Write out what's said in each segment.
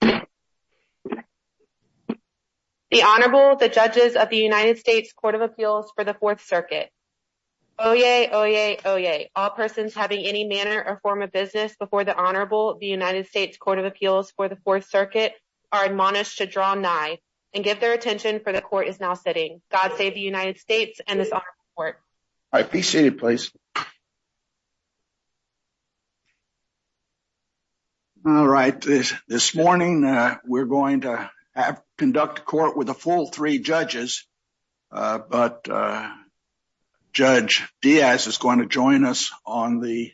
The Honorable, the Judges of the United States Court of Appeals for the Fourth Circuit. Oyez, oyez, oyez, all persons having any manner or form of business before the Honorable, the United States Court of Appeals for the Fourth Circuit are admonished to draw nigh and give their attention for the Court is now sitting. God save the United States and this Honorable Court. All right, be seated, please. All right, this morning, we're going to conduct a court with a full three judges. But Judge Diaz is going to join us on the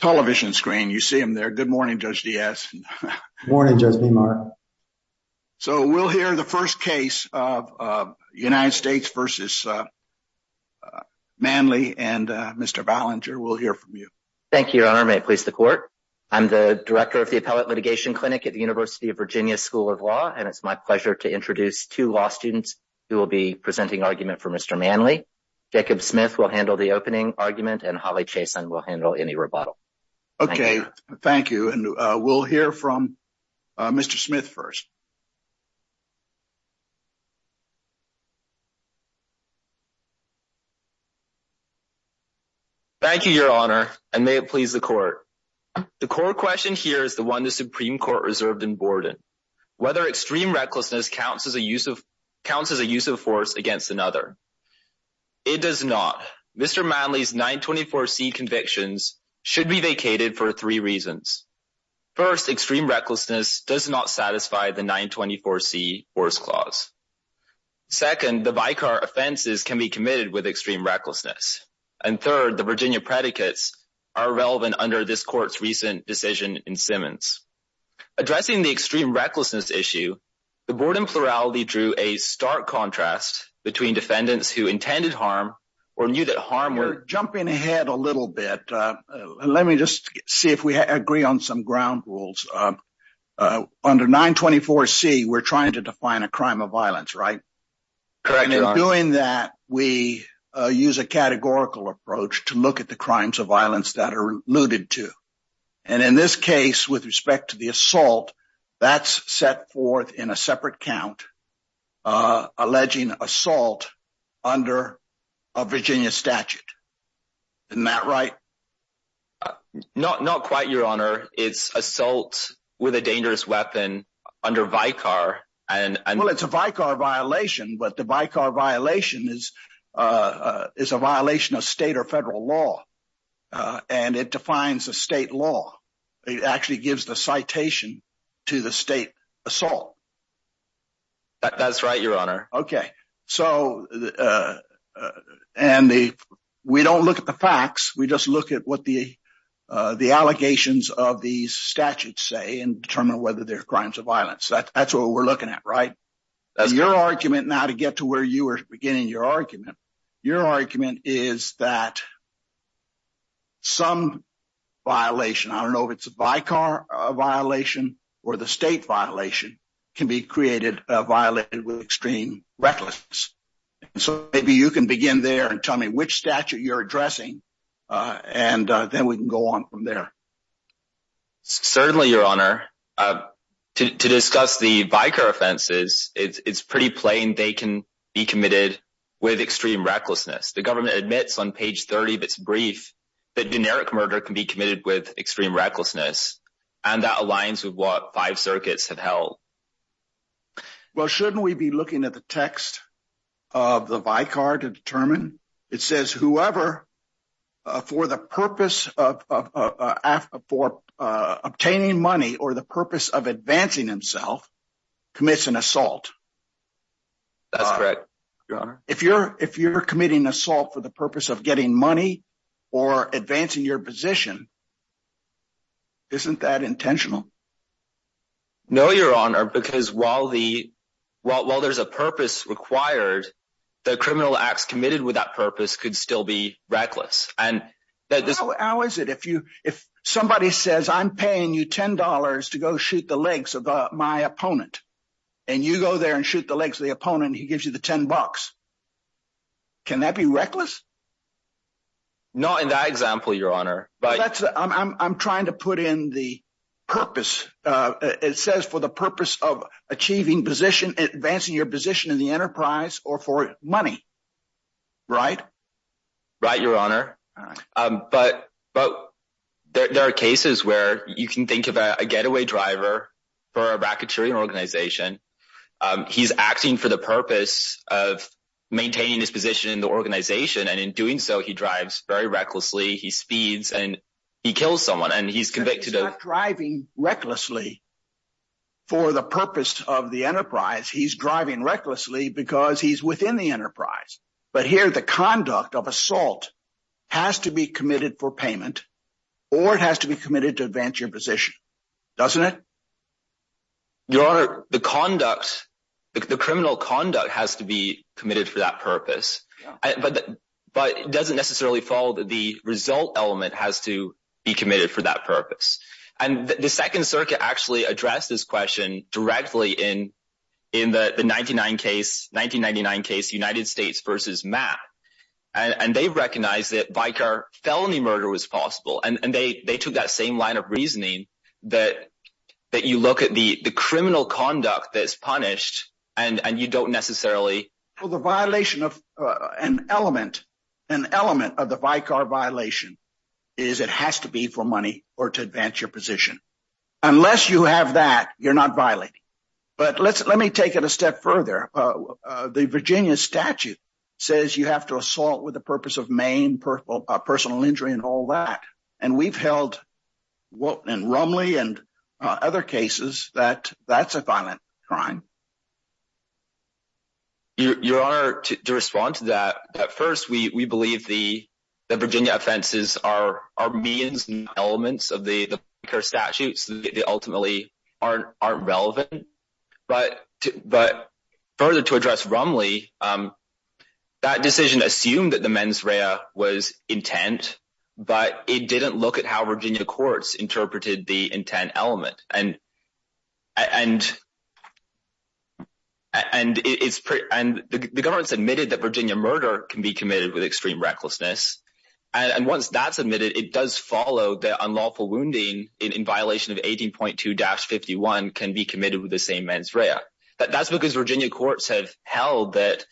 television screen. You see him there. Good morning, Judge Diaz. Judge Diaz Good morning, Judge Bimar. So we'll hear the first case of United States v. Manley and Mr. Ballinger. We'll hear from you. Thank you, Your Honor. May it please the Court. I'm the Director of the Appellate Litigation Clinic at the University of Virginia School of Law, and it's my pleasure to introduce two law students who will be presenting argument for Mr. Manley. Jacob Smith will handle the opening argument, and Holly Chason will handle any rebuttal. Okay, thank you. We'll hear from Mr. Smith first. Thank you, Your Honor, and may it please the Court. The core question here is the one the Supreme Court reserved in Borden, whether extreme recklessness counts as a use of force against another. It does not. Mr. Manley's 924C convictions should be vacated for three reasons. First, extreme recklessness does not satisfy the 924C Force Clause. Second, the vicar offenses can be committed with extreme recklessness. And third, the Virginia predicates are relevant under this Court's recent decision in Simmons. Addressing the extreme recklessness issue, the Borden plurality drew a stark contrast between defendants who intended harm or knew that harm— Jumping ahead a little bit, let me just see if we agree on some ground rules. Under 924C, we're trying to define a crime of violence, right? Correct, Your Honor. In doing that, we use a categorical approach to look at the crimes of violence that are alluded to. In this case, with respect to the assault, that's set forth in a separate count, alleging assault under a Virginia statute. Isn't that right? Not quite, Your Honor. It's assault with a dangerous weapon under vicar, and— Well, it's a vicar violation, but the vicar violation is a violation of state or federal law, and it defines the state law. It actually gives the citation to the state assault. That's right, Your Honor. Okay. So, we don't look at the facts. We just look at what the allegations of these statutes say and determine whether they're crimes of violence. That's what we're looking at, right? Your argument, now to get to where you were beginning your argument, your argument is that some violation—I don't know if it's a vicar violation or the state violation—can create a violation with extreme recklessness. So, maybe you can begin there and tell me which statute you're addressing, and then we can go on from there. Certainly, Your Honor. To discuss the vicar offenses, it's pretty plain they can be committed with extreme recklessness. The government admits on page 30 of its brief that generic murder can be committed with extreme recklessness, and that aligns with what five circuits have held. Well, shouldn't we be looking at the text of the vicar to determine? It says whoever, for the purpose of obtaining money or the purpose of advancing himself, commits an assault. That's correct, Your Honor. If you're committing assault for the purpose of getting money or advancing your position, isn't that intentional? No, Your Honor, because while there's a purpose required, the criminal acts committed with that purpose could still be reckless. How is it if somebody says, I'm paying you $10 to go shoot the legs of my opponent, and you go there and shoot the legs of the opponent, and he gives you the $10? Can that be reckless? Not in that example, Your Honor. I'm trying to put in the purpose. It says for the purpose of achieving position, advancing your position in the enterprise or for money, right? Right, Your Honor. But there are cases where you can think of a getaway driver for a racketeering organization. He's acting for the purpose of maintaining his position in the organization, and in doing so, he drives very recklessly, he speeds, and he kills someone, and he's convicted of— He's not driving recklessly for the purpose of the enterprise. He's driving recklessly because he's within the enterprise. But here, the conduct of assault has to be committed for payment, or it has to be committed to advance your position, doesn't it? Your Honor, the conduct, the criminal conduct has to be committed for that purpose. But it doesn't necessarily follow that the result element has to be committed for that purpose. And the Second Circuit actually addressed this question directly in the 1999 case, United States v. Mapp, and they recognized that vicar felony murder was possible, and they took that same line of reasoning, that you look at the criminal conduct that's punished, and you don't necessarily— An element of the vicar violation is it has to be for money or to advance your position. Unless you have that, you're not violating. But let me take it a step further. The Virginia statute says you have to assault with the purpose of maim, personal injury, and all that. And we've held, in Rumley and other cases, that that's a violent crime. Your Honor, to respond to that, at first, we believe the Virginia offenses are means and elements of the vicar statutes that ultimately aren't relevant. But further, to address Rumley, that decision assumed that the mens rea was intent, but it didn't look at how Virginia courts interpreted the intent element. And the government has admitted that Virginia murder can be committed with extreme recklessness. And once that's admitted, it does follow that unlawful wounding in violation of 18.2-51 can be committed with the same mens rea. That's because Virginia courts have held that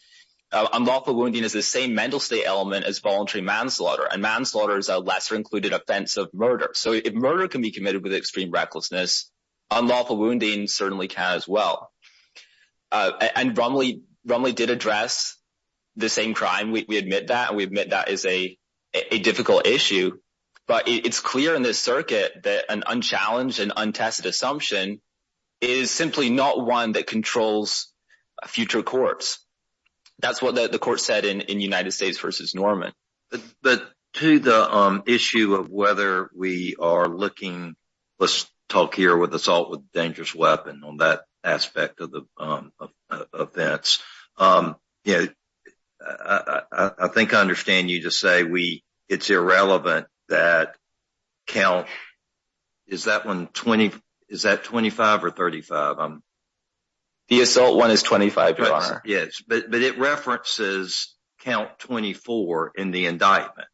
unlawful wounding is the same mental state element as voluntary manslaughter, and manslaughter is a lesser-included offense of murder. So, if murder can be committed with extreme recklessness, unlawful wounding certainly can as well. And Rumley did address the same crime. We admit that, and we admit that is a difficult issue, but it's clear in this circuit that an unchallenged and untested assumption is simply not one that controls future courts. That's what the court said in United States v. Norman. But to the issue of whether we are looking, let's talk here with assault with dangerous weapon on that aspect of the events, I think I understand you to say it's irrelevant that count, is that 25 or 35? But it references count 24 in the indictment,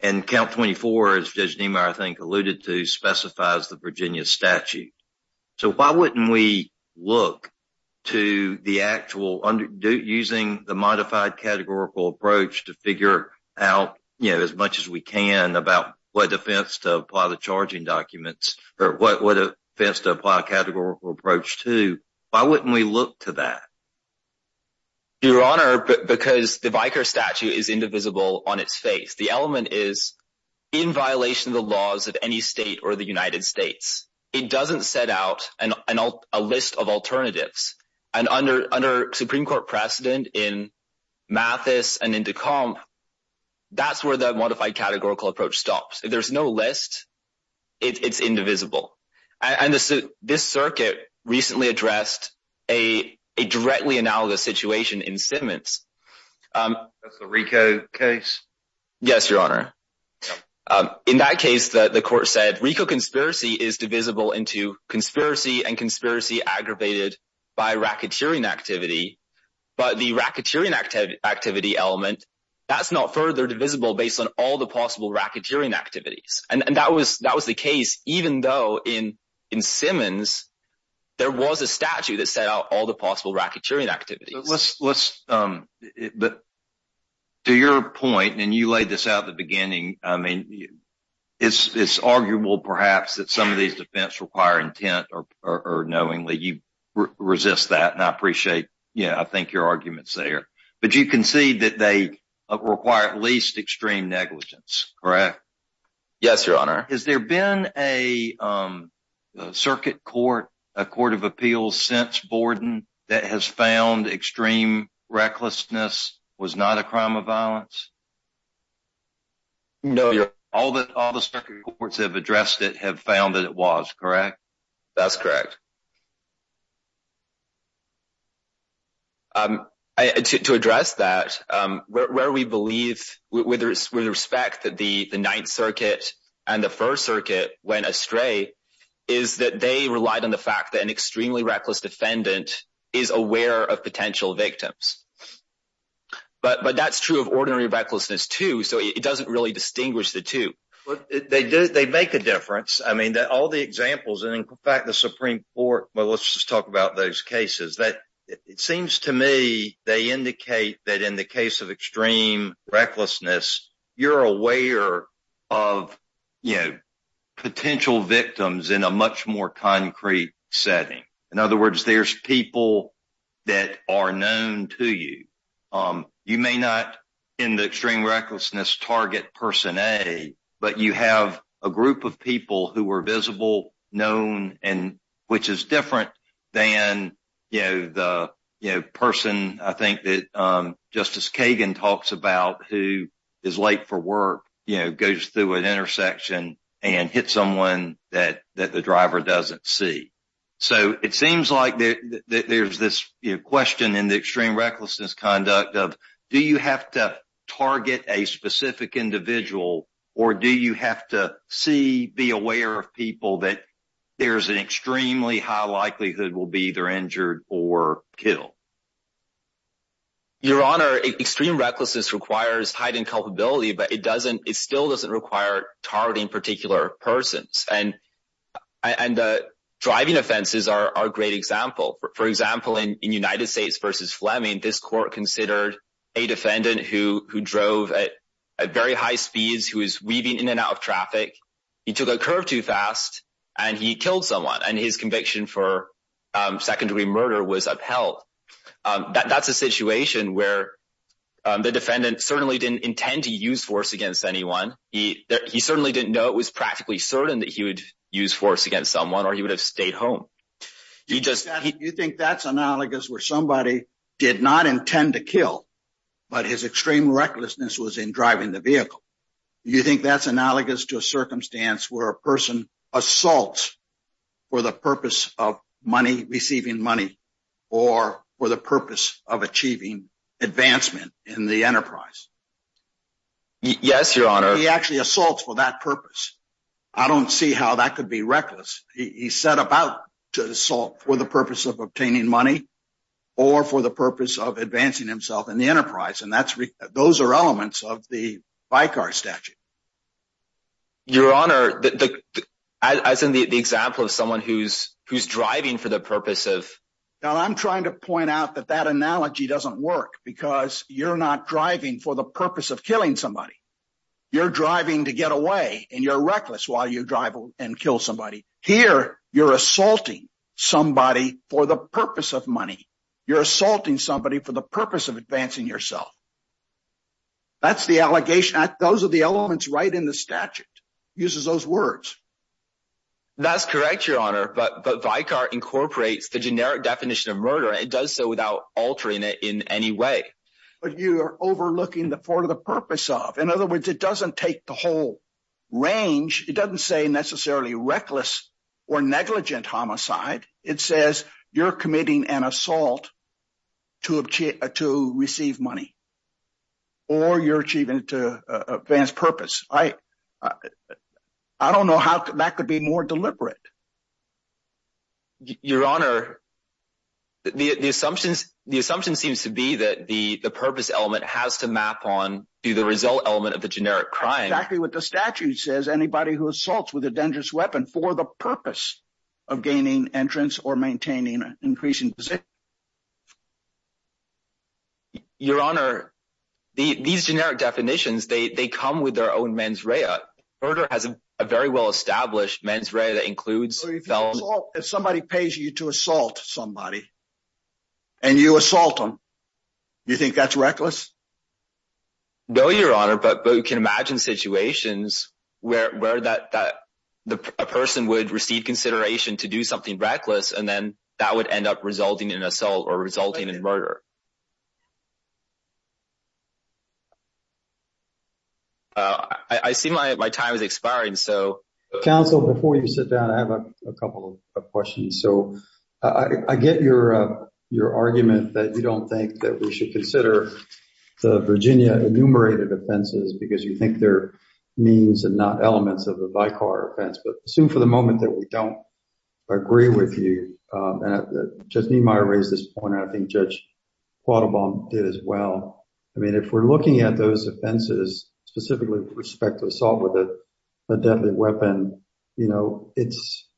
and count 24, as Judge Niemeyer alluded to, specifies the Virginia statute. So, why wouldn't we look to the actual, using the modified categorical approach to figure out as much as we can about what offense to apply the charging documents, or what offense to apply a categorical approach to, why wouldn't we look to that? Your Honor, because the Vickers statute is indivisible on its face. The element is in violation of the laws of any state or the United States. It doesn't set out a list of alternatives, and under Supreme Court precedent in Mathis and into comp, that's where the modified categorical approach stops. If there's no list, it's indivisible. And this circuit recently addressed a directly analogous situation in Simmons. That's the RICO case? Yes, Your Honor. In that case, the court said RICO conspiracy is divisible into conspiracy and conspiracy aggravated by racketeering activity. But the racketeering activity element, that's not further divisible based on all the possible racketeering activities. And that was the case, even though in Simmons, there was a statute that set out all the possible racketeering activities. But to your point, and you laid this out at the beginning, I mean, it's arguable perhaps that some of these defense require intent or knowingly, you resist that, and I appreciate, yeah, I think your arguments there. But you concede that they require at least extreme negligence, correct? Yes, Your Honor. Has there been a circuit court, a court of appeals since Borden that has found extreme recklessness was not a crime of violence? No, Your Honor. All the circuit courts have addressed it have found that it was, correct? That's correct. To address that, where we believe with respect that the Ninth Circuit and the First Circuit went astray, is that they relied on the fact that an extremely reckless defendant is aware of potential victims. But that's true of ordinary recklessness, too. So it doesn't really distinguish the two. But they do, they make a difference. I mean, all the examples, and in fact, the Supreme Court, the Supreme Court, the Supreme Court, well, let's just talk about those cases. It seems to me they indicate that in the case of extreme recklessness, you're aware of, you know, potential victims in a much more concrete setting. In other words, there's people that are known to you. You may not, in the extreme recklessness, target person A, but you have a group of people who are visible, known, and which is different than, you know, the person I think that Justice Kagan talks about who is late for work, you know, goes through an intersection and hits someone that the driver doesn't see. So it seems like there's this question in the extreme recklessness conduct of, do you have to target a specific individual, or do you have to see, be aware of people that there's an extremely high likelihood will be either injured or killed? Your Honor, extreme recklessness requires heightened culpability, but it doesn't, it still doesn't require targeting particular persons. And driving offenses are a great example. For example, in United States versus Fleming, this court considered a defendant who drove at very high speeds, who was weaving in and out of traffic, he took a curve too fast, and he killed someone, and his conviction for secondary murder was upheld. That's a situation where the defendant certainly didn't intend to use force against anyone. He certainly didn't know it was practically certain that he would use force against someone or he would have stayed home. Do you think that's analogous where somebody did not intend to kill, but his extreme recklessness was in driving the vehicle? Do you think that's analogous to a circumstance where a person assaults for the purpose of money, receiving money, or for the purpose of achieving advancement in the enterprise? Yes, Your Honor. He actually assaults for that purpose. I don't see how that could be reckless. He set about to assault for the purpose of obtaining money or for the purpose of advancing himself in the enterprise. And those are elements of the Vicar statute. Your Honor, as in the example of someone who's driving for the purpose of... Now, I'm trying to point out that that analogy doesn't work because you're not driving for the purpose of killing somebody. You're driving to get away, and you're reckless while you drive and kill somebody. Here, you're assaulting somebody for the purpose of money. You're assaulting somebody for the purpose of advancing yourself. That's the allegation. Those are the elements right in the statute. He uses those words. That's correct, Your Honor. But Vicar incorporates the generic definition of murder. It does so without altering it in any way. But you are overlooking the for the purpose of. In other words, it doesn't take the whole range. It doesn't say necessarily reckless or negligent homicide. It says you're committing an assault to receive money or you're achieving it to advance purpose. I don't know how that could be more deliberate. Your Honor, the assumption seems to be that the purpose element has to map on to the result element of the generic crime. Exactly what the statute says. Anybody who assaults with a dangerous weapon for the purpose of gaining entrance or maintaining an increasing. Your Honor, these generic definitions, they come with their own mens rea. Murder has a very well established mens rea that includes. If somebody pays you to assault somebody and you assault them, you think that's reckless? No, Your Honor, but you can imagine situations where that person would receive consideration to do something reckless, and then that would end up resulting in assault or resulting in murder. I see my time is expiring, so. Counsel, before you sit down, I have a couple of questions. So I get your argument that you don't think that we should consider the Virginia enumerated offenses because you think they're means and not elements of the vicar offense. But assume for the moment that we don't agree with you, and Judge Niemeyer raised this point, and I think Judge Quattlebaum did as well. I mean, if we're looking at those offenses, specifically with respect to assault with a deadly weapon, you know, it's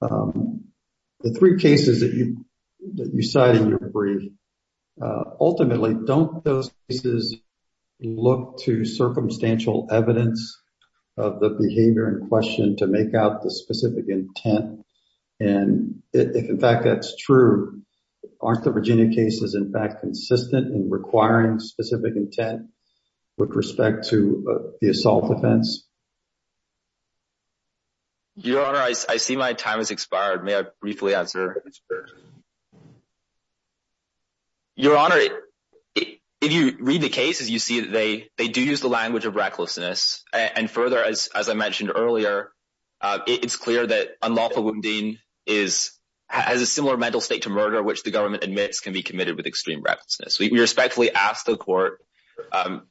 the three cases that you cite in your brief ultimately. Don't those cases look to circumstantial evidence of the behavior in question to make out the specific intent? And if in fact that's true, aren't the Virginia cases in fact consistent in requiring specific intent with respect to the assault offense? Your Honor, I see my time has expired. May I briefly answer? Your Honor, if you read the cases, you see that they do use the language of recklessness. And further, as I mentioned earlier, it's clear that unlawful wounding has a similar mental state to murder, which the government admits can be committed with extreme recklessness. We respectfully ask the Court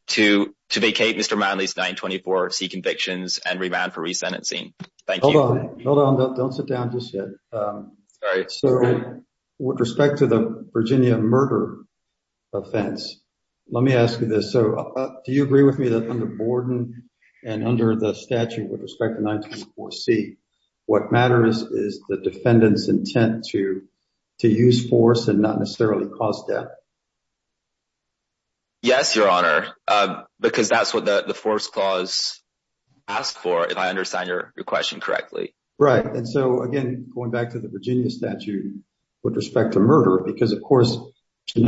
to vacate Mr. Manley's 924C convictions and remand for resentencing. Thank you. Hold on. Don't sit down just yet. So with respect to the Virginia murder offense, let me ask you this. So do you agree with me that under Borden and under the statute with respect to 924C, what matters is the defendant's intent to use force and not necessarily cause death? Yes, Your Honor, because that's what the force clause asks for, if I understand your question correctly. Right. And so again, going back to the Virginia statute with respect to murder, because of course, you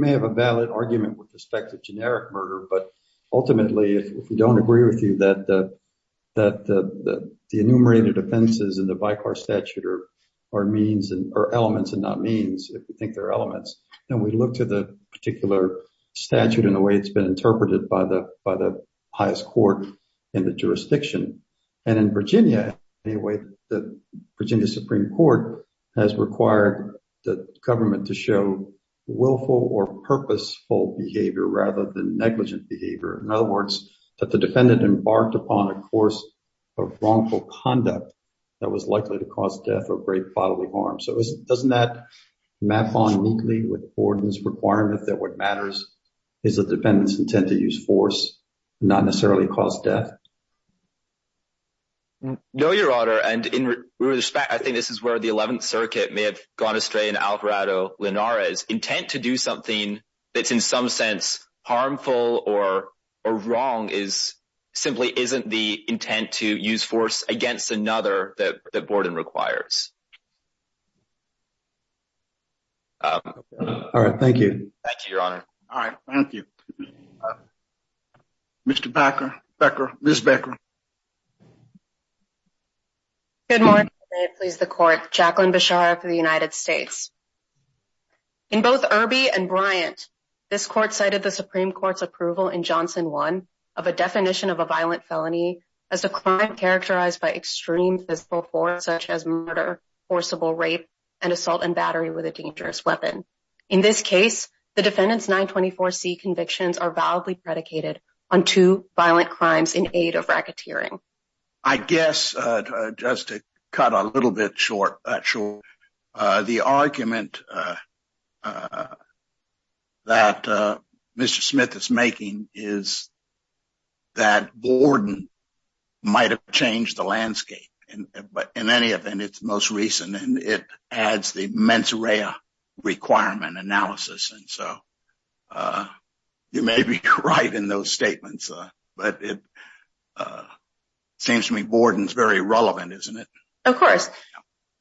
may have a valid argument with respect to generic murder, but ultimately, if we don't agree with you that the enumerated offenses in the VICAR statute are elements and not means, if you think they're elements, then we look to the particular statute and the way it's been interpreted by the highest court in the jurisdiction. And in Virginia, anyway, the Virginia Supreme Court has required the government to show willful or purposeful behavior rather than negligent behavior. In other words, that the defendant embarked upon a course of wrongful conduct that was likely to cause death or great bodily harm. So doesn't that map on neatly with Borden's requirement that what matters is the defendant's intent to use force, not necessarily cause death? No, Your Honor, and in respect, I think this is where the 11th Circuit may have gone astray in Alvarado-Linares. Intent to do something that's in some sense harmful or wrong is simply isn't the intent to use force against another that Borden requires. All right. Thank you. Thank you, Your Honor. All right. Thank you. Mr. Becker, Ms. Becker. Good morning. May it please the Court. Jacqueline Bechara for the United States. In both Irby and Bryant, this court cited the Supreme Court's approval in Johnson 1 of a definition of a violent felony as a crime characterized by extreme physical force such as murder, forcible rape, and assault and battery with a dangerous weapon. In this case, the defendant's 924C convictions are validly predicated on two violent crimes in aid of racketeering. I guess just to cut a little bit short, the argument that Mr. Smith is making is that Borden might have changed the landscape, but in any event, it's most recent, and it adds the mens rea requirement analysis. So you may be right in those statements, but it seems to me Borden's very relevant, isn't it? Of course.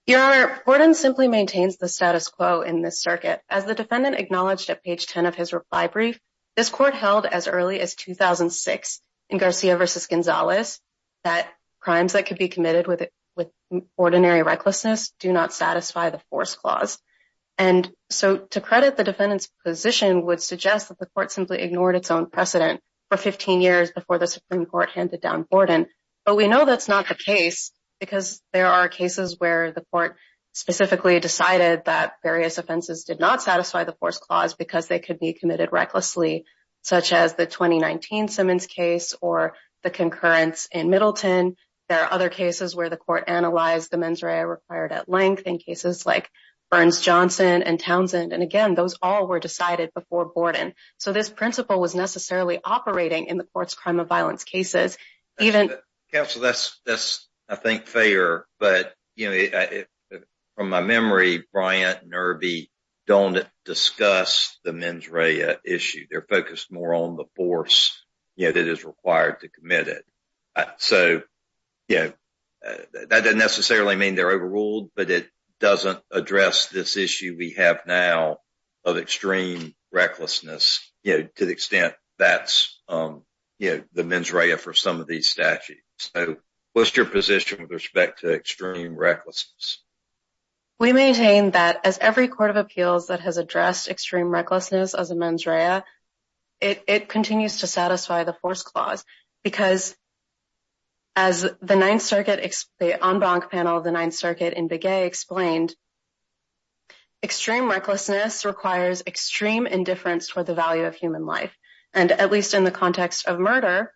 Your Honor, Borden simply maintains the status quo in this circuit. As the defendant acknowledged at page 10 of his reply brief, this court held as early as 2006 in Garcia v. Gonzalez that crimes that could be committed with ordinary recklessness do not satisfy the force clause. And so to credit the defendant's position would suggest that the court simply ignored its own precedent for 15 years before the Supreme Court handed down Borden. But we know that's not the case because there are cases where the court specifically decided that various offenses did not satisfy the force clause because they could be committed recklessly, such as the 2019 Simmons case or the concurrence in Middleton. There are other cases where the court analyzed the mens rea required at length in cases like Burns-Johnson and Townsend. And again, those all were decided before Borden. So this principle was necessarily operating in the court's crime of violence cases. Counsel, that's, I think, fair. But from my memory, Bryant and Irby don't discuss the mens rea issue. They're focused more on the force that is required to commit it. So that doesn't necessarily mean they're overruled, but it doesn't address this issue we have now of extreme recklessness to the extent that's the mens rea for some of these statutes. So what's your position with respect to extreme recklessness? We maintain that as every court of appeals that has addressed extreme recklessness as a mens rea, it continues to satisfy the force clause. Because as the ninth circuit, the en banc panel of the ninth circuit in Begay explained, extreme recklessness requires extreme indifference for the value of human life. And at least in the context of murder,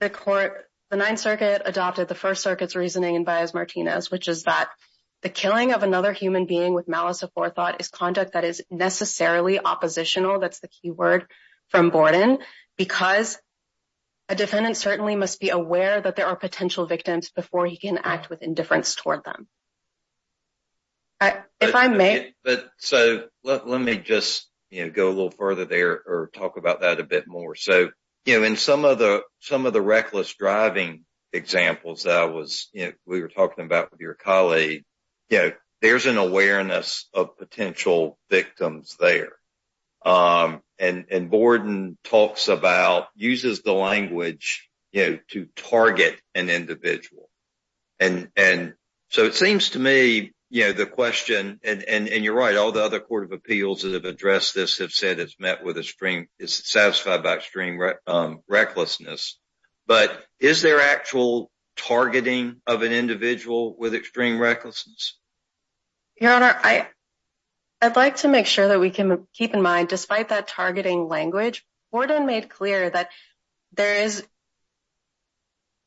the court, the ninth circuit adopted the first circuit's reasoning in Baez-Martinez, which is that the killing of another human being with malice of forethought is conduct that is necessarily oppositional. That's the key word from Borden. Because a defendant certainly must be aware that there are potential victims before he can act with indifference toward them. If I may. So let me just go a little further there or talk about that a bit more. So in some of the reckless driving examples that we were talking about with your colleague, there's an awareness of potential victims there. And Borden uses the language to target an individual. And so it seems to me the question, and you're right, all the other court of appeals that have addressed this have said it's satisfied by extreme recklessness. But is there actual targeting of an individual with extreme recklessness? Your Honor, I'd like to make sure that we can keep in mind, despite that targeting language, Borden made clear that there is,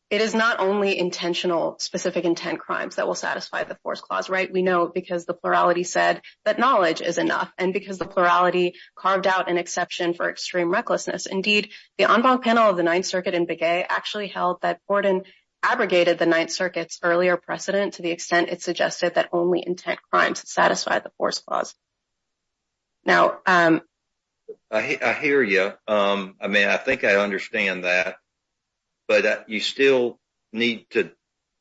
it is not only intentional specific intent crimes that will satisfy the fourth clause, right? We know because the plurality said that knowledge is enough and because the plurality carved out an exception for extreme recklessness. Indeed, the en banc panel of the ninth circuit in Begay actually held that Borden abrogated the ninth circuit's earlier precedent to the extent it suggested that only intent crimes satisfy the fourth clause. Now, I hear you. I mean, I think I understand that. But you still need to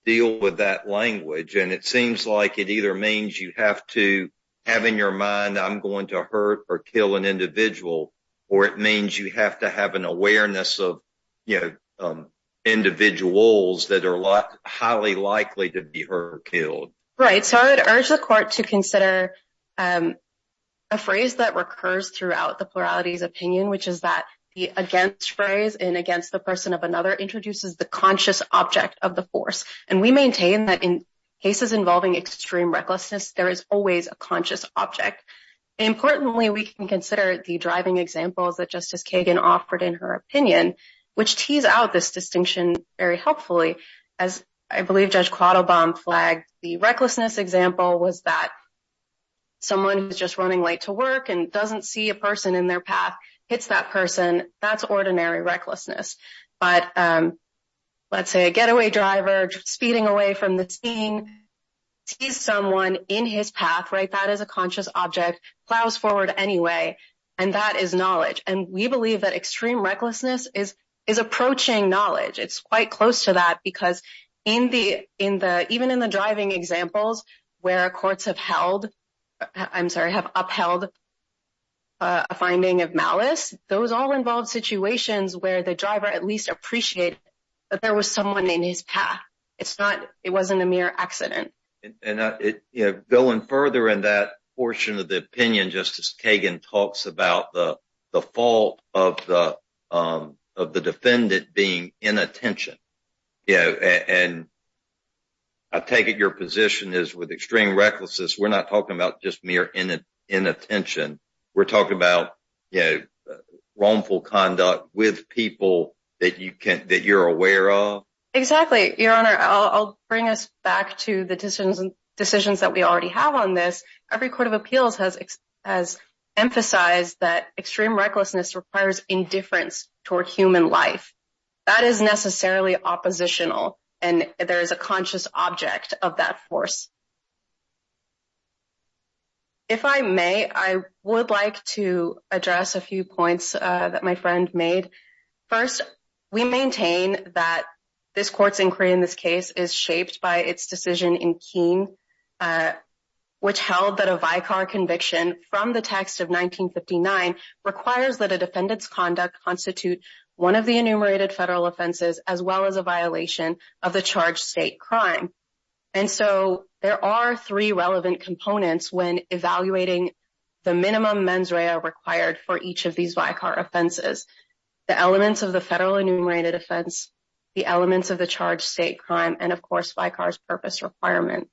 deal with that language. And it seems like it either means you have to have in your mind, I'm going to hurt or kill an individual, or it means you have to have an awareness of, you know, individuals that are highly likely to be hurt or killed. Right. So I would urge the court to consider a phrase that recurs throughout the plurality's opinion, which is that the against phrase in against the person of another introduces the conscious object of the force. And we maintain that in cases involving extreme recklessness, there is always a conscious object. Importantly, we can consider the driving examples that Justice Kagan offered in her opinion, which tease out this distinction very helpfully. As I believe Judge Quattlebaum flagged, the recklessness example was that someone who's just running late to work and doesn't see a person in their path, hits that person. That's ordinary recklessness. But let's say a getaway driver speeding away from the scene, sees someone in his path, right, that is a conscious object, plows forward anyway. And that is knowledge. And we believe that extreme recklessness is approaching knowledge. It's quite close to that because in the, even in the driving examples where courts have held, I'm sorry, have upheld a finding of malice, those all involve situations where the driver at least appreciated that there was someone in his path. It's not, it wasn't a mere accident. And, you know, going further in that portion of the opinion, Justice Kagan talks about the fault of the defendant being inattention, you know, and I take it your position is with extreme recklessness, we're not talking about just mere inattention. We're talking about, you know, wrongful conduct with people that you can, that you're aware of. Exactly, Your Honor, I'll bring us back to the decisions that we already have on this. Every court of appeals has emphasized that extreme recklessness requires indifference toward human life. That is necessarily oppositional. And there is a conscious object of that force. If I may, I would like to address a few points that my friend made. First, we maintain that this court's inquiry in this case is shaped by its decision in Keene, which held that a vicar conviction from the text of 1959 requires that a defendant's conduct constitute one of the enumerated federal offenses as well as a violation of the charged state crime. And so there are three relevant components when evaluating the minimum mens rea required for each of these vicar offenses. The elements of the federal enumerated offense, the elements of the charged state crime, and of course, vicar's purpose requirement.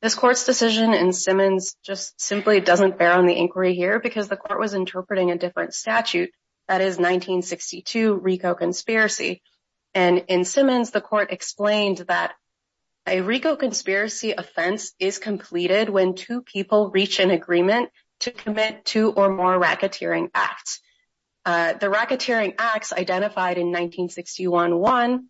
This court's decision in Simmons just simply doesn't bear on the inquiry here because the court was interpreting a different statute. That is 1962 RICO conspiracy. And in Simmons, the court explained that a RICO conspiracy offense is completed when two people reach an agreement to commit two or more racketeering acts. The racketeering acts identified in 1961-1,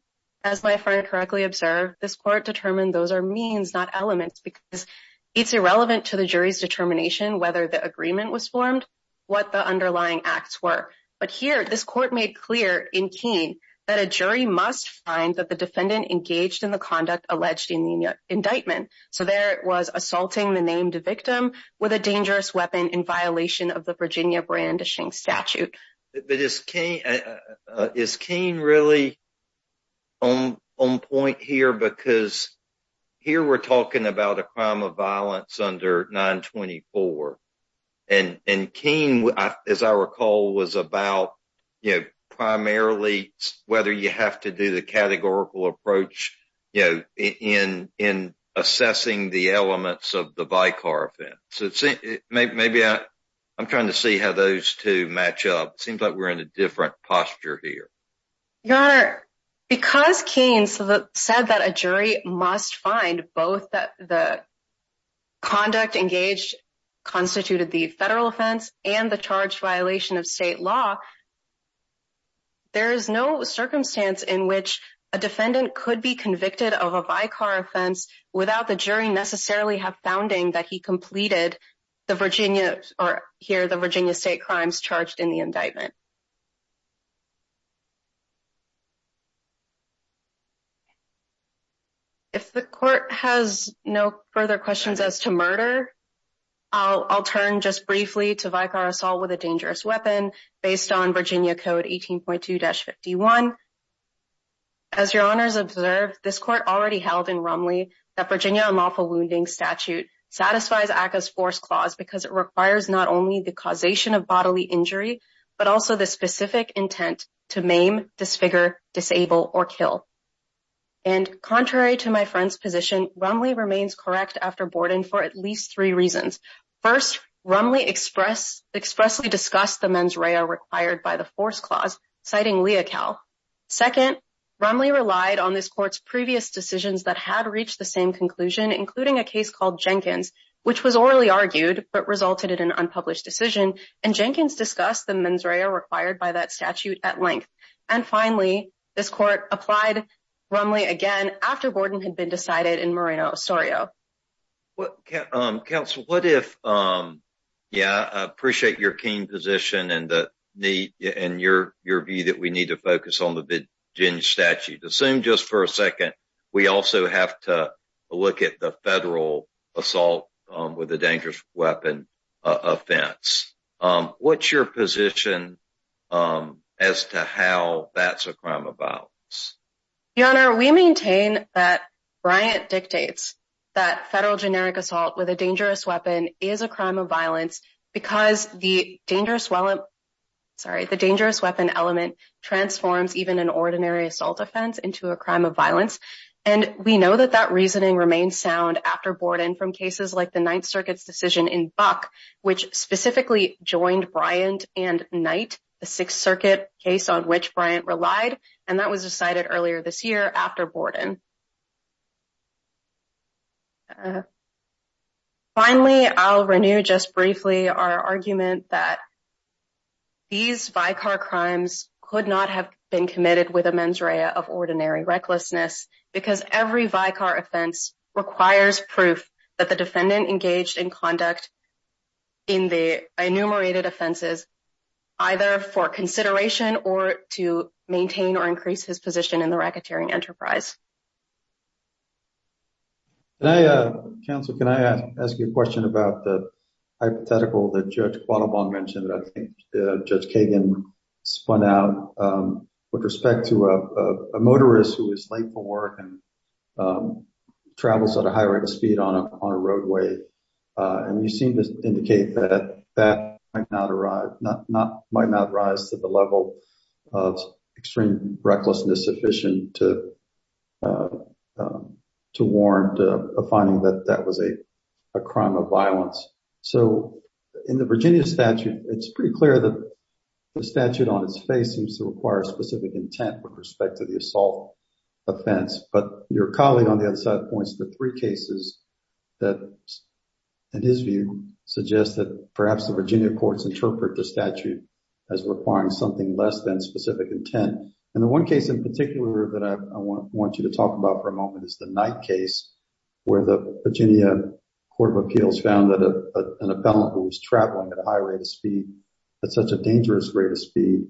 as my friend correctly observed, this court determined those are means, not elements, because it's irrelevant to the jury's determination whether the agreement was formed, what the underlying acts were. But here, this court made clear in Keene that a jury must find that the defendant engaged in the conduct alleged in the indictment. So there it was assaulting the named victim with a dangerous weapon in violation of the But is Keene really on point here? Because here we're talking about a crime of violence under 924. And Keene, as I recall, was about, you know, primarily whether you have to do the categorical approach, you know, in assessing the elements of the vicar offense. Maybe I'm trying to see how those two match up. It seems like we're in a different posture here. Your Honor, because Keene said that a jury must find both the conduct engaged constituted the federal offense and the charge violation of state law, there is no circumstance in which a defendant could be convicted of a vicar offense without the jury necessarily have founding that he completed the Virginia or here the Virginia state crimes charged in the indictment. If the court has no further questions as to murder, I'll turn just briefly to vicar assault with a dangerous weapon based on Virginia Code 18.2-51. As Your Honor's observed, this court already held in Romley that Virginia unlawful wounding statute satisfies ACCA's force clause because it requires not only the causation of bodily injury, but also the specific intent to maim, disfigure, disable, or kill. And contrary to my friend's position, Romley remains correct after Borden for at least three reasons. First, Romley express expressly discussed the mens rea required by the force clause, citing Leocal. Second, Romley relied on this court's previous decisions that had reached the same conclusion, including a case called Jenkins, which was orally argued, but resulted in an unpublished decision. And Jenkins discussed the mens rea required by that statute at length. And finally, this court applied Romley again after Borden had been decided in Moreno-Ostorio. Well, Counsel, what if, yeah, I appreciate your keen position and the need and your view that we need to focus on the Virginia statute. Assume just for a second, we also have to look at the federal assault with a dangerous weapon offense. What's your position as to how that's a crime of violence? Your Honor, we maintain that Bryant dictates that federal generic assault with a dangerous weapon is a crime of violence because the dangerous weapon element transforms even an ordinary assault offense into a crime of violence. And we know that that reasoning remains sound after Borden from cases like the Ninth Circuit's decision in Buck, which specifically joined Bryant and Knight, the Sixth Circuit case on which Bryant relied. And that was decided earlier this year after Borden. Finally, I'll renew just briefly our argument that these vicar crimes could not have been committed with a mens rea of ordinary recklessness because every vicar offense requires proof that the defendant engaged in conduct in the enumerated offenses either for consideration or to maintain or increase his position in the racketeering enterprise. Counsel, can I ask you a question about the hypothetical that Judge Quattlebaum mentioned that I think Judge Kagan spun out with respect to a motorist who is late for work and travels at a high rate of speed on a roadway. And you seem to indicate that that might not rise to the level of extreme recklessness sufficient to warrant a finding that that was a crime of violence. So in the Virginia statute, it's pretty clear that the statute on its face seems to require specific intent with respect to the assault offense. But your colleague on the other side points to three cases that, in his view, suggest that perhaps the Virginia courts interpret the statute as requiring something less than specific intent. And the one case in particular that I want you to talk about for a moment is the Knight case where the Virginia Court of Appeals found that an appellant who was traveling at a high rate of speed, at such a dangerous rate of speed,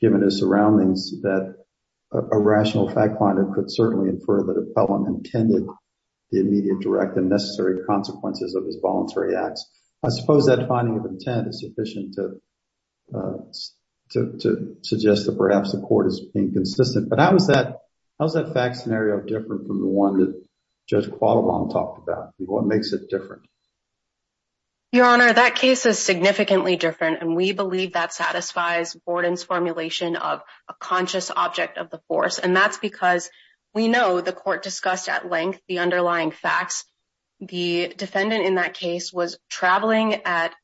given his surroundings, that a rational fact finder could certainly infer that an appellant intended the immediate, direct, and necessary consequences of his voluntary acts. I suppose that finding of intent is sufficient to suggest that perhaps the court is being consistent. But how is that fact scenario different from the one that Judge Quattlebaum talked about? What makes it different? Your Honor, that case is significantly different. And we believe that satisfies Borden's formulation of a conscious object of the force. And that's because we know the court discussed at length the underlying facts. The defendant in that case was traveling at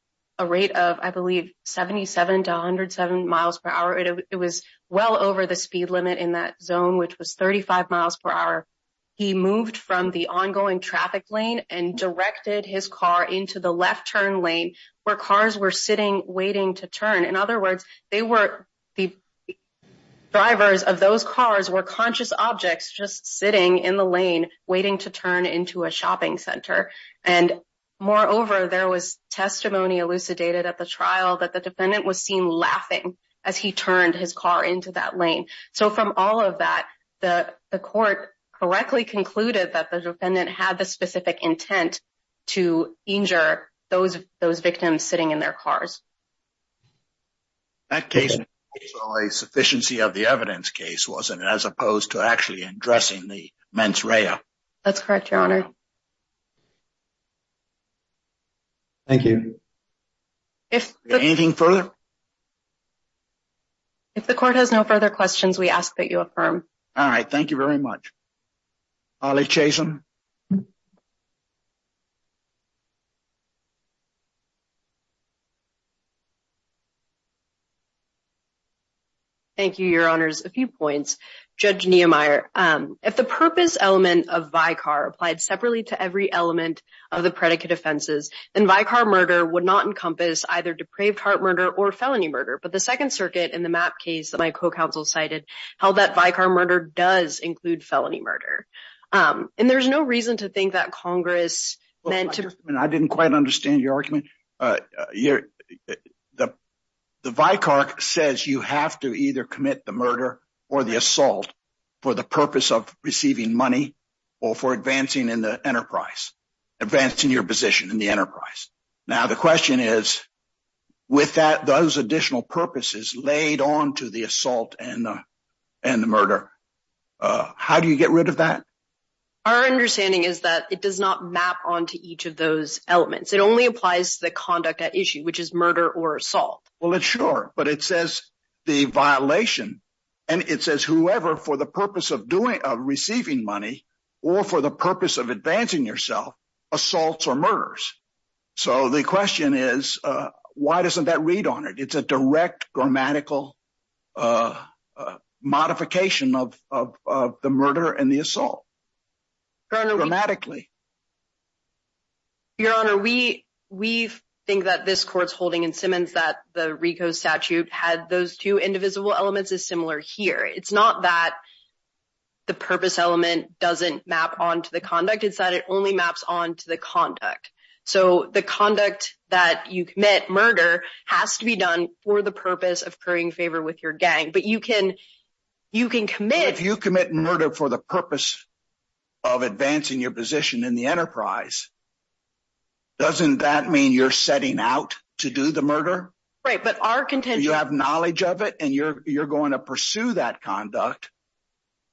a rate of, I believe, 77 to 107 miles per hour. It was well over the speed limit in that zone, which was 35 miles per hour. He moved from the ongoing traffic lane and directed his car into the left turn lane where cars were sitting, waiting to turn. In other words, the drivers of those cars were conscious objects just sitting in the lane, waiting to turn into a shopping center. And moreover, there was testimony elucidated at the trial that the defendant was seen laughing as he turned his car into that lane. So from all of that, the court correctly concluded that the defendant had the specific intent to injure those victims sitting in their cars. That case was a sufficiency of the evidence case, wasn't it? As opposed to actually addressing the mens rea. That's correct, Your Honor. Thank you. Is there anything further? If the court has no further questions, we ask that you affirm. All right. Thank you very much. Holly Chasen. Thank you, Your Honors. A few points. Judge Niemeyer, if the purpose element of vicar applied separately to every element of the predicate offenses, then vicar murder would not encompass either depraved heart murder or felony murder. But the Second Circuit in the MAP case that my co-counsel cited held that vicar murder does include felony murder. And there's no reason to think that Congress meant to— I didn't quite understand your argument. The vicar says you have to either commit the murder or the assault for the purpose of receiving money or for advancing in the enterprise, advancing your position in the enterprise. Now, the question is, with those additional purposes laid on to the assault and the murder, how do you get rid of that? Our understanding is that it does not map onto each of those elements. It only applies to the conduct at issue, which is murder or assault. Well, sure. But it says the violation, and it says whoever, for the purpose of receiving money or for the purpose of advancing yourself, assaults or murders. So the question is, why doesn't that read on it? It's a direct grammatical modification of the murder and the assault, grammatically. Your Honor, we think that this Court's holding in Simmons that the RICO statute had those two indivisible elements is similar here. It's not that the purpose element doesn't map onto the conduct. It's that it only maps onto the conduct. So the conduct that you commit, murder, has to be done for the purpose of currying favor with your gang. But you can commit— But if you commit murder for the purpose of advancing your position in the enterprise, doesn't that mean you're setting out to do the murder? Right, but our contention— You have knowledge of it, and you're going to pursue that conduct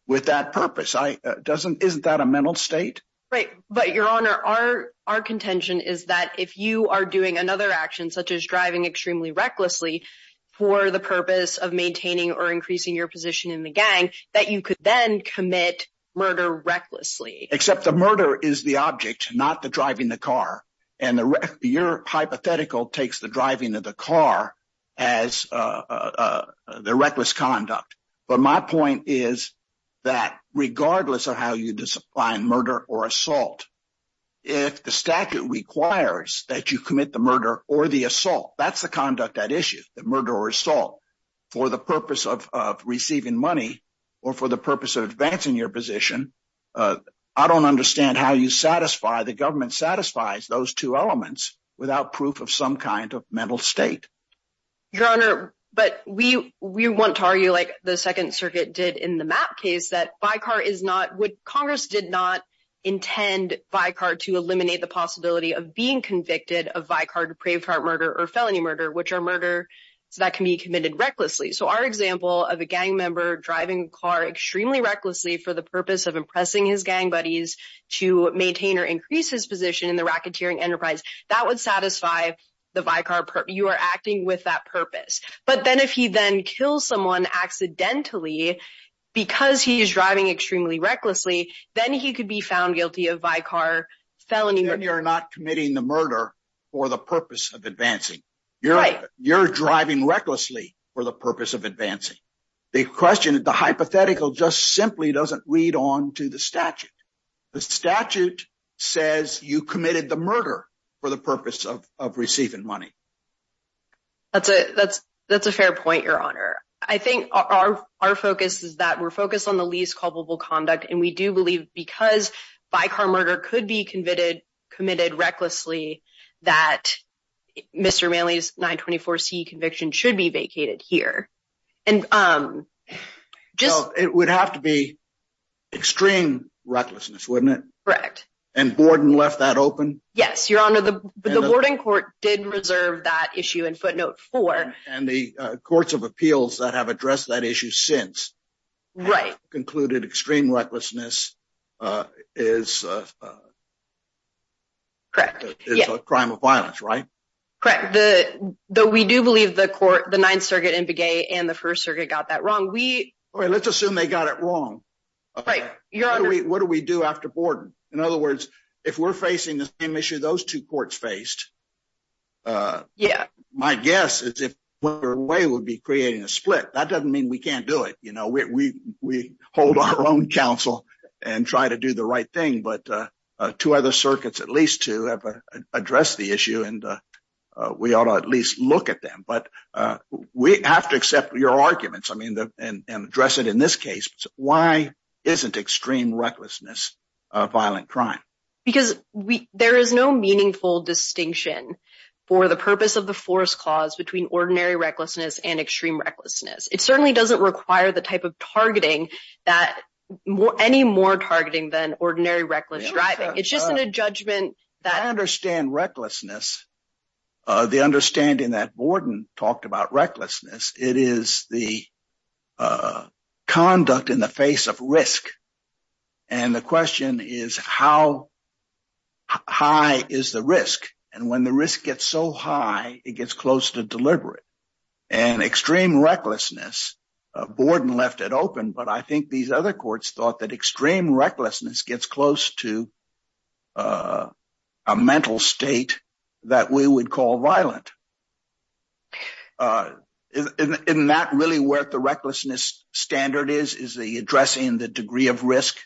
with that purpose. Isn't that a mental state? Right. But, Your Honor, our contention is that if you are doing another action, such as driving extremely recklessly for the purpose of maintaining or increasing your position in the gang, that you could then commit murder recklessly. Except the murder is the object, not the driving the car. And your hypothetical takes the driving of the car as the reckless conduct. But my point is that regardless of how you define murder or assault, if the statute requires that you commit the murder or the assault—that's the conduct at issue, the murder or assault—for the purpose of receiving money or for the purpose of advancing your position, I don't understand how you satisfy—the government satisfies those two elements without proof of some kind of mental state. Your Honor, but we want to argue, like the Second Circuit did in the Mapp case, that Vicar is not—Congress did not intend Vicar to eliminate the possibility of being convicted of Vicar-depraved heart murder or felony murder, which are murders that can be committed recklessly. So our example of a gang member driving a car extremely recklessly for the purpose of impressing his gang buddies to maintain or increase his position in the racketeering enterprise, that would satisfy the Vicar—you are acting with that purpose. But then if he then kills someone accidentally because he is driving extremely recklessly, then he could be found guilty of Vicar felony murder. You're not committing the murder for the purpose of advancing. You're driving recklessly for the purpose of advancing. The question—the hypothetical just simply doesn't read on to the statute. The statute says you committed the murder for the purpose of receiving money. That's a fair point, Your Honor. I think our focus is that we're focused on the least culpable conduct. And we do believe because Vicar murder could be committed recklessly, that Mr. Manley's 924c conviction should be vacated here. And just— It would have to be extreme recklessness, wouldn't it? Correct. And Borden left that open? Yes, Your Honor, the Borden court did reserve that issue in footnote 4. And the courts of appeals that have addressed that issue since— Right. —concluded extreme recklessness is a crime of violence, right? Correct. Though we do believe the court, the Ninth Circuit in Begay and the First Circuit got that wrong, we— Well, let's assume they got it wrong. Right. Your Honor— What do we do after Borden? In other words, if we're facing the same issue those two courts faced— Yeah. —my guess is if Borden went away, we'd be creating a split. That doesn't mean we can't do it. You know, we hold our own counsel and try to do the right thing. But two other circuits, at least two, have addressed the issue. And we ought to at least look at them. But we have to accept your arguments and address it in this case. Why isn't extreme recklessness a violent crime? Because there is no meaningful distinction for the purpose of the force clause between ordinary recklessness and extreme recklessness. It certainly doesn't require the type of targeting that— It's just in a judgment that— I understand recklessness. The understanding that Borden talked about recklessness, it is the conduct in the face of risk. And the question is, how high is the risk? And when the risk gets so high, it gets close to deliberate. And extreme recklessness, Borden left it open, but I think these other courts thought that it was close to a mental state that we would call violent. Isn't that really where the recklessness standard is, is the addressing the degree of risk?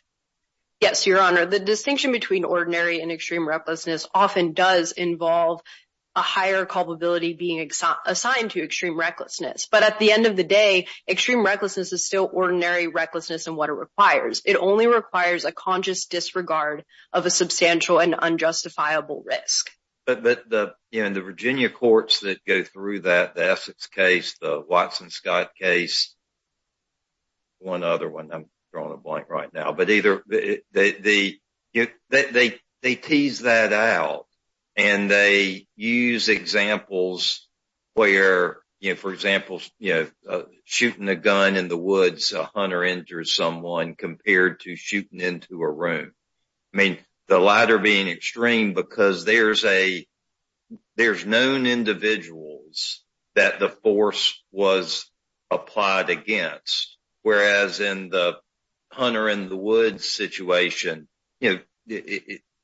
Yes, Your Honor. The distinction between ordinary and extreme recklessness often does involve a higher culpability being assigned to extreme recklessness. But at the end of the day, extreme recklessness is still ordinary recklessness and what it requires. It only requires a conscious disregard of a substantial and unjustifiable risk. But the Virginia courts that go through that, the Essex case, the Watson-Scott case, one other one, I'm drawing a blank right now, but either— they tease that out and they use examples where, for example, shooting a gun in the shooting into a room. I mean, the latter being extreme because there's known individuals that the force was applied against, whereas in the Hunter-in-the-woods situation,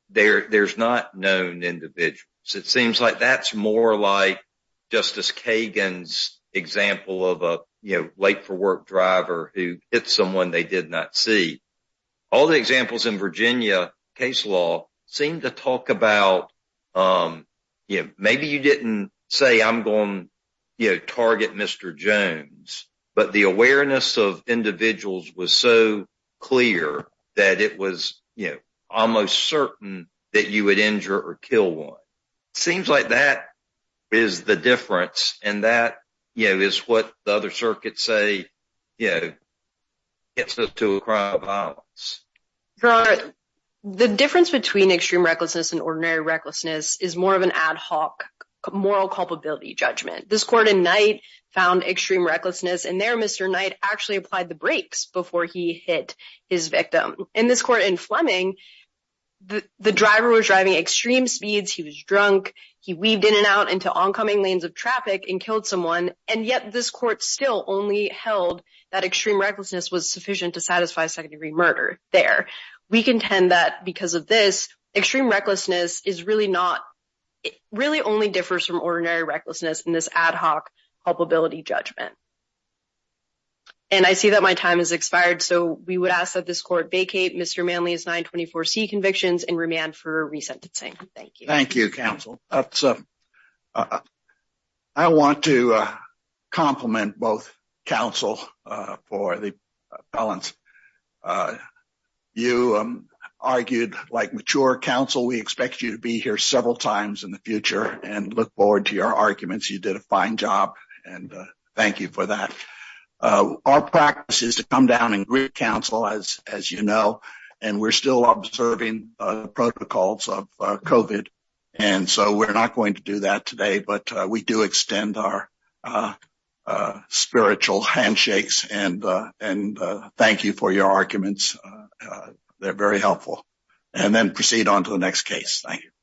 there's not known individuals. It seems like that's more like Justice Kagan's example of a late-for-work driver who hit someone they did not see. All the examples in Virginia case law seem to talk about, you know, maybe you didn't say, I'm going to target Mr. Jones, but the awareness of individuals was so clear that it was almost certain that you would injure or kill one. Seems like that is the difference. And that, you know, is what the other circuits say, you know, gets us to a crime of violence. The difference between extreme recklessness and ordinary recklessness is more of an ad hoc moral culpability judgment. This court in Knight found extreme recklessness, and there Mr. Knight actually applied the brakes before he hit his victim. In this court in Fleming, the driver was driving extreme speeds, he was drunk, he weaved in and out into oncoming lanes of traffic and killed someone, and yet this court still only held that extreme recklessness was sufficient to satisfy second-degree murder there. We contend that because of this, extreme recklessness really only differs from ordinary recklessness in this ad hoc culpability judgment. And I see that my time has expired, so we would ask that this court vacate Mr. Manley's 924C convictions and remand for resentencing. Thank you. Thank you, counsel. I want to compliment both counsel for the balance. You argued like mature counsel. We expect you to be here several times in the future and look forward to your arguments. You did a fine job, and thank you for that. Our practice is to come down and greet counsel, as you know, and we're still observing protocols of COVID, and so we're not going to do that today, but we do extend our spiritual handshakes and thank you for your arguments. They're very helpful. And then proceed on to the next case. Thank you.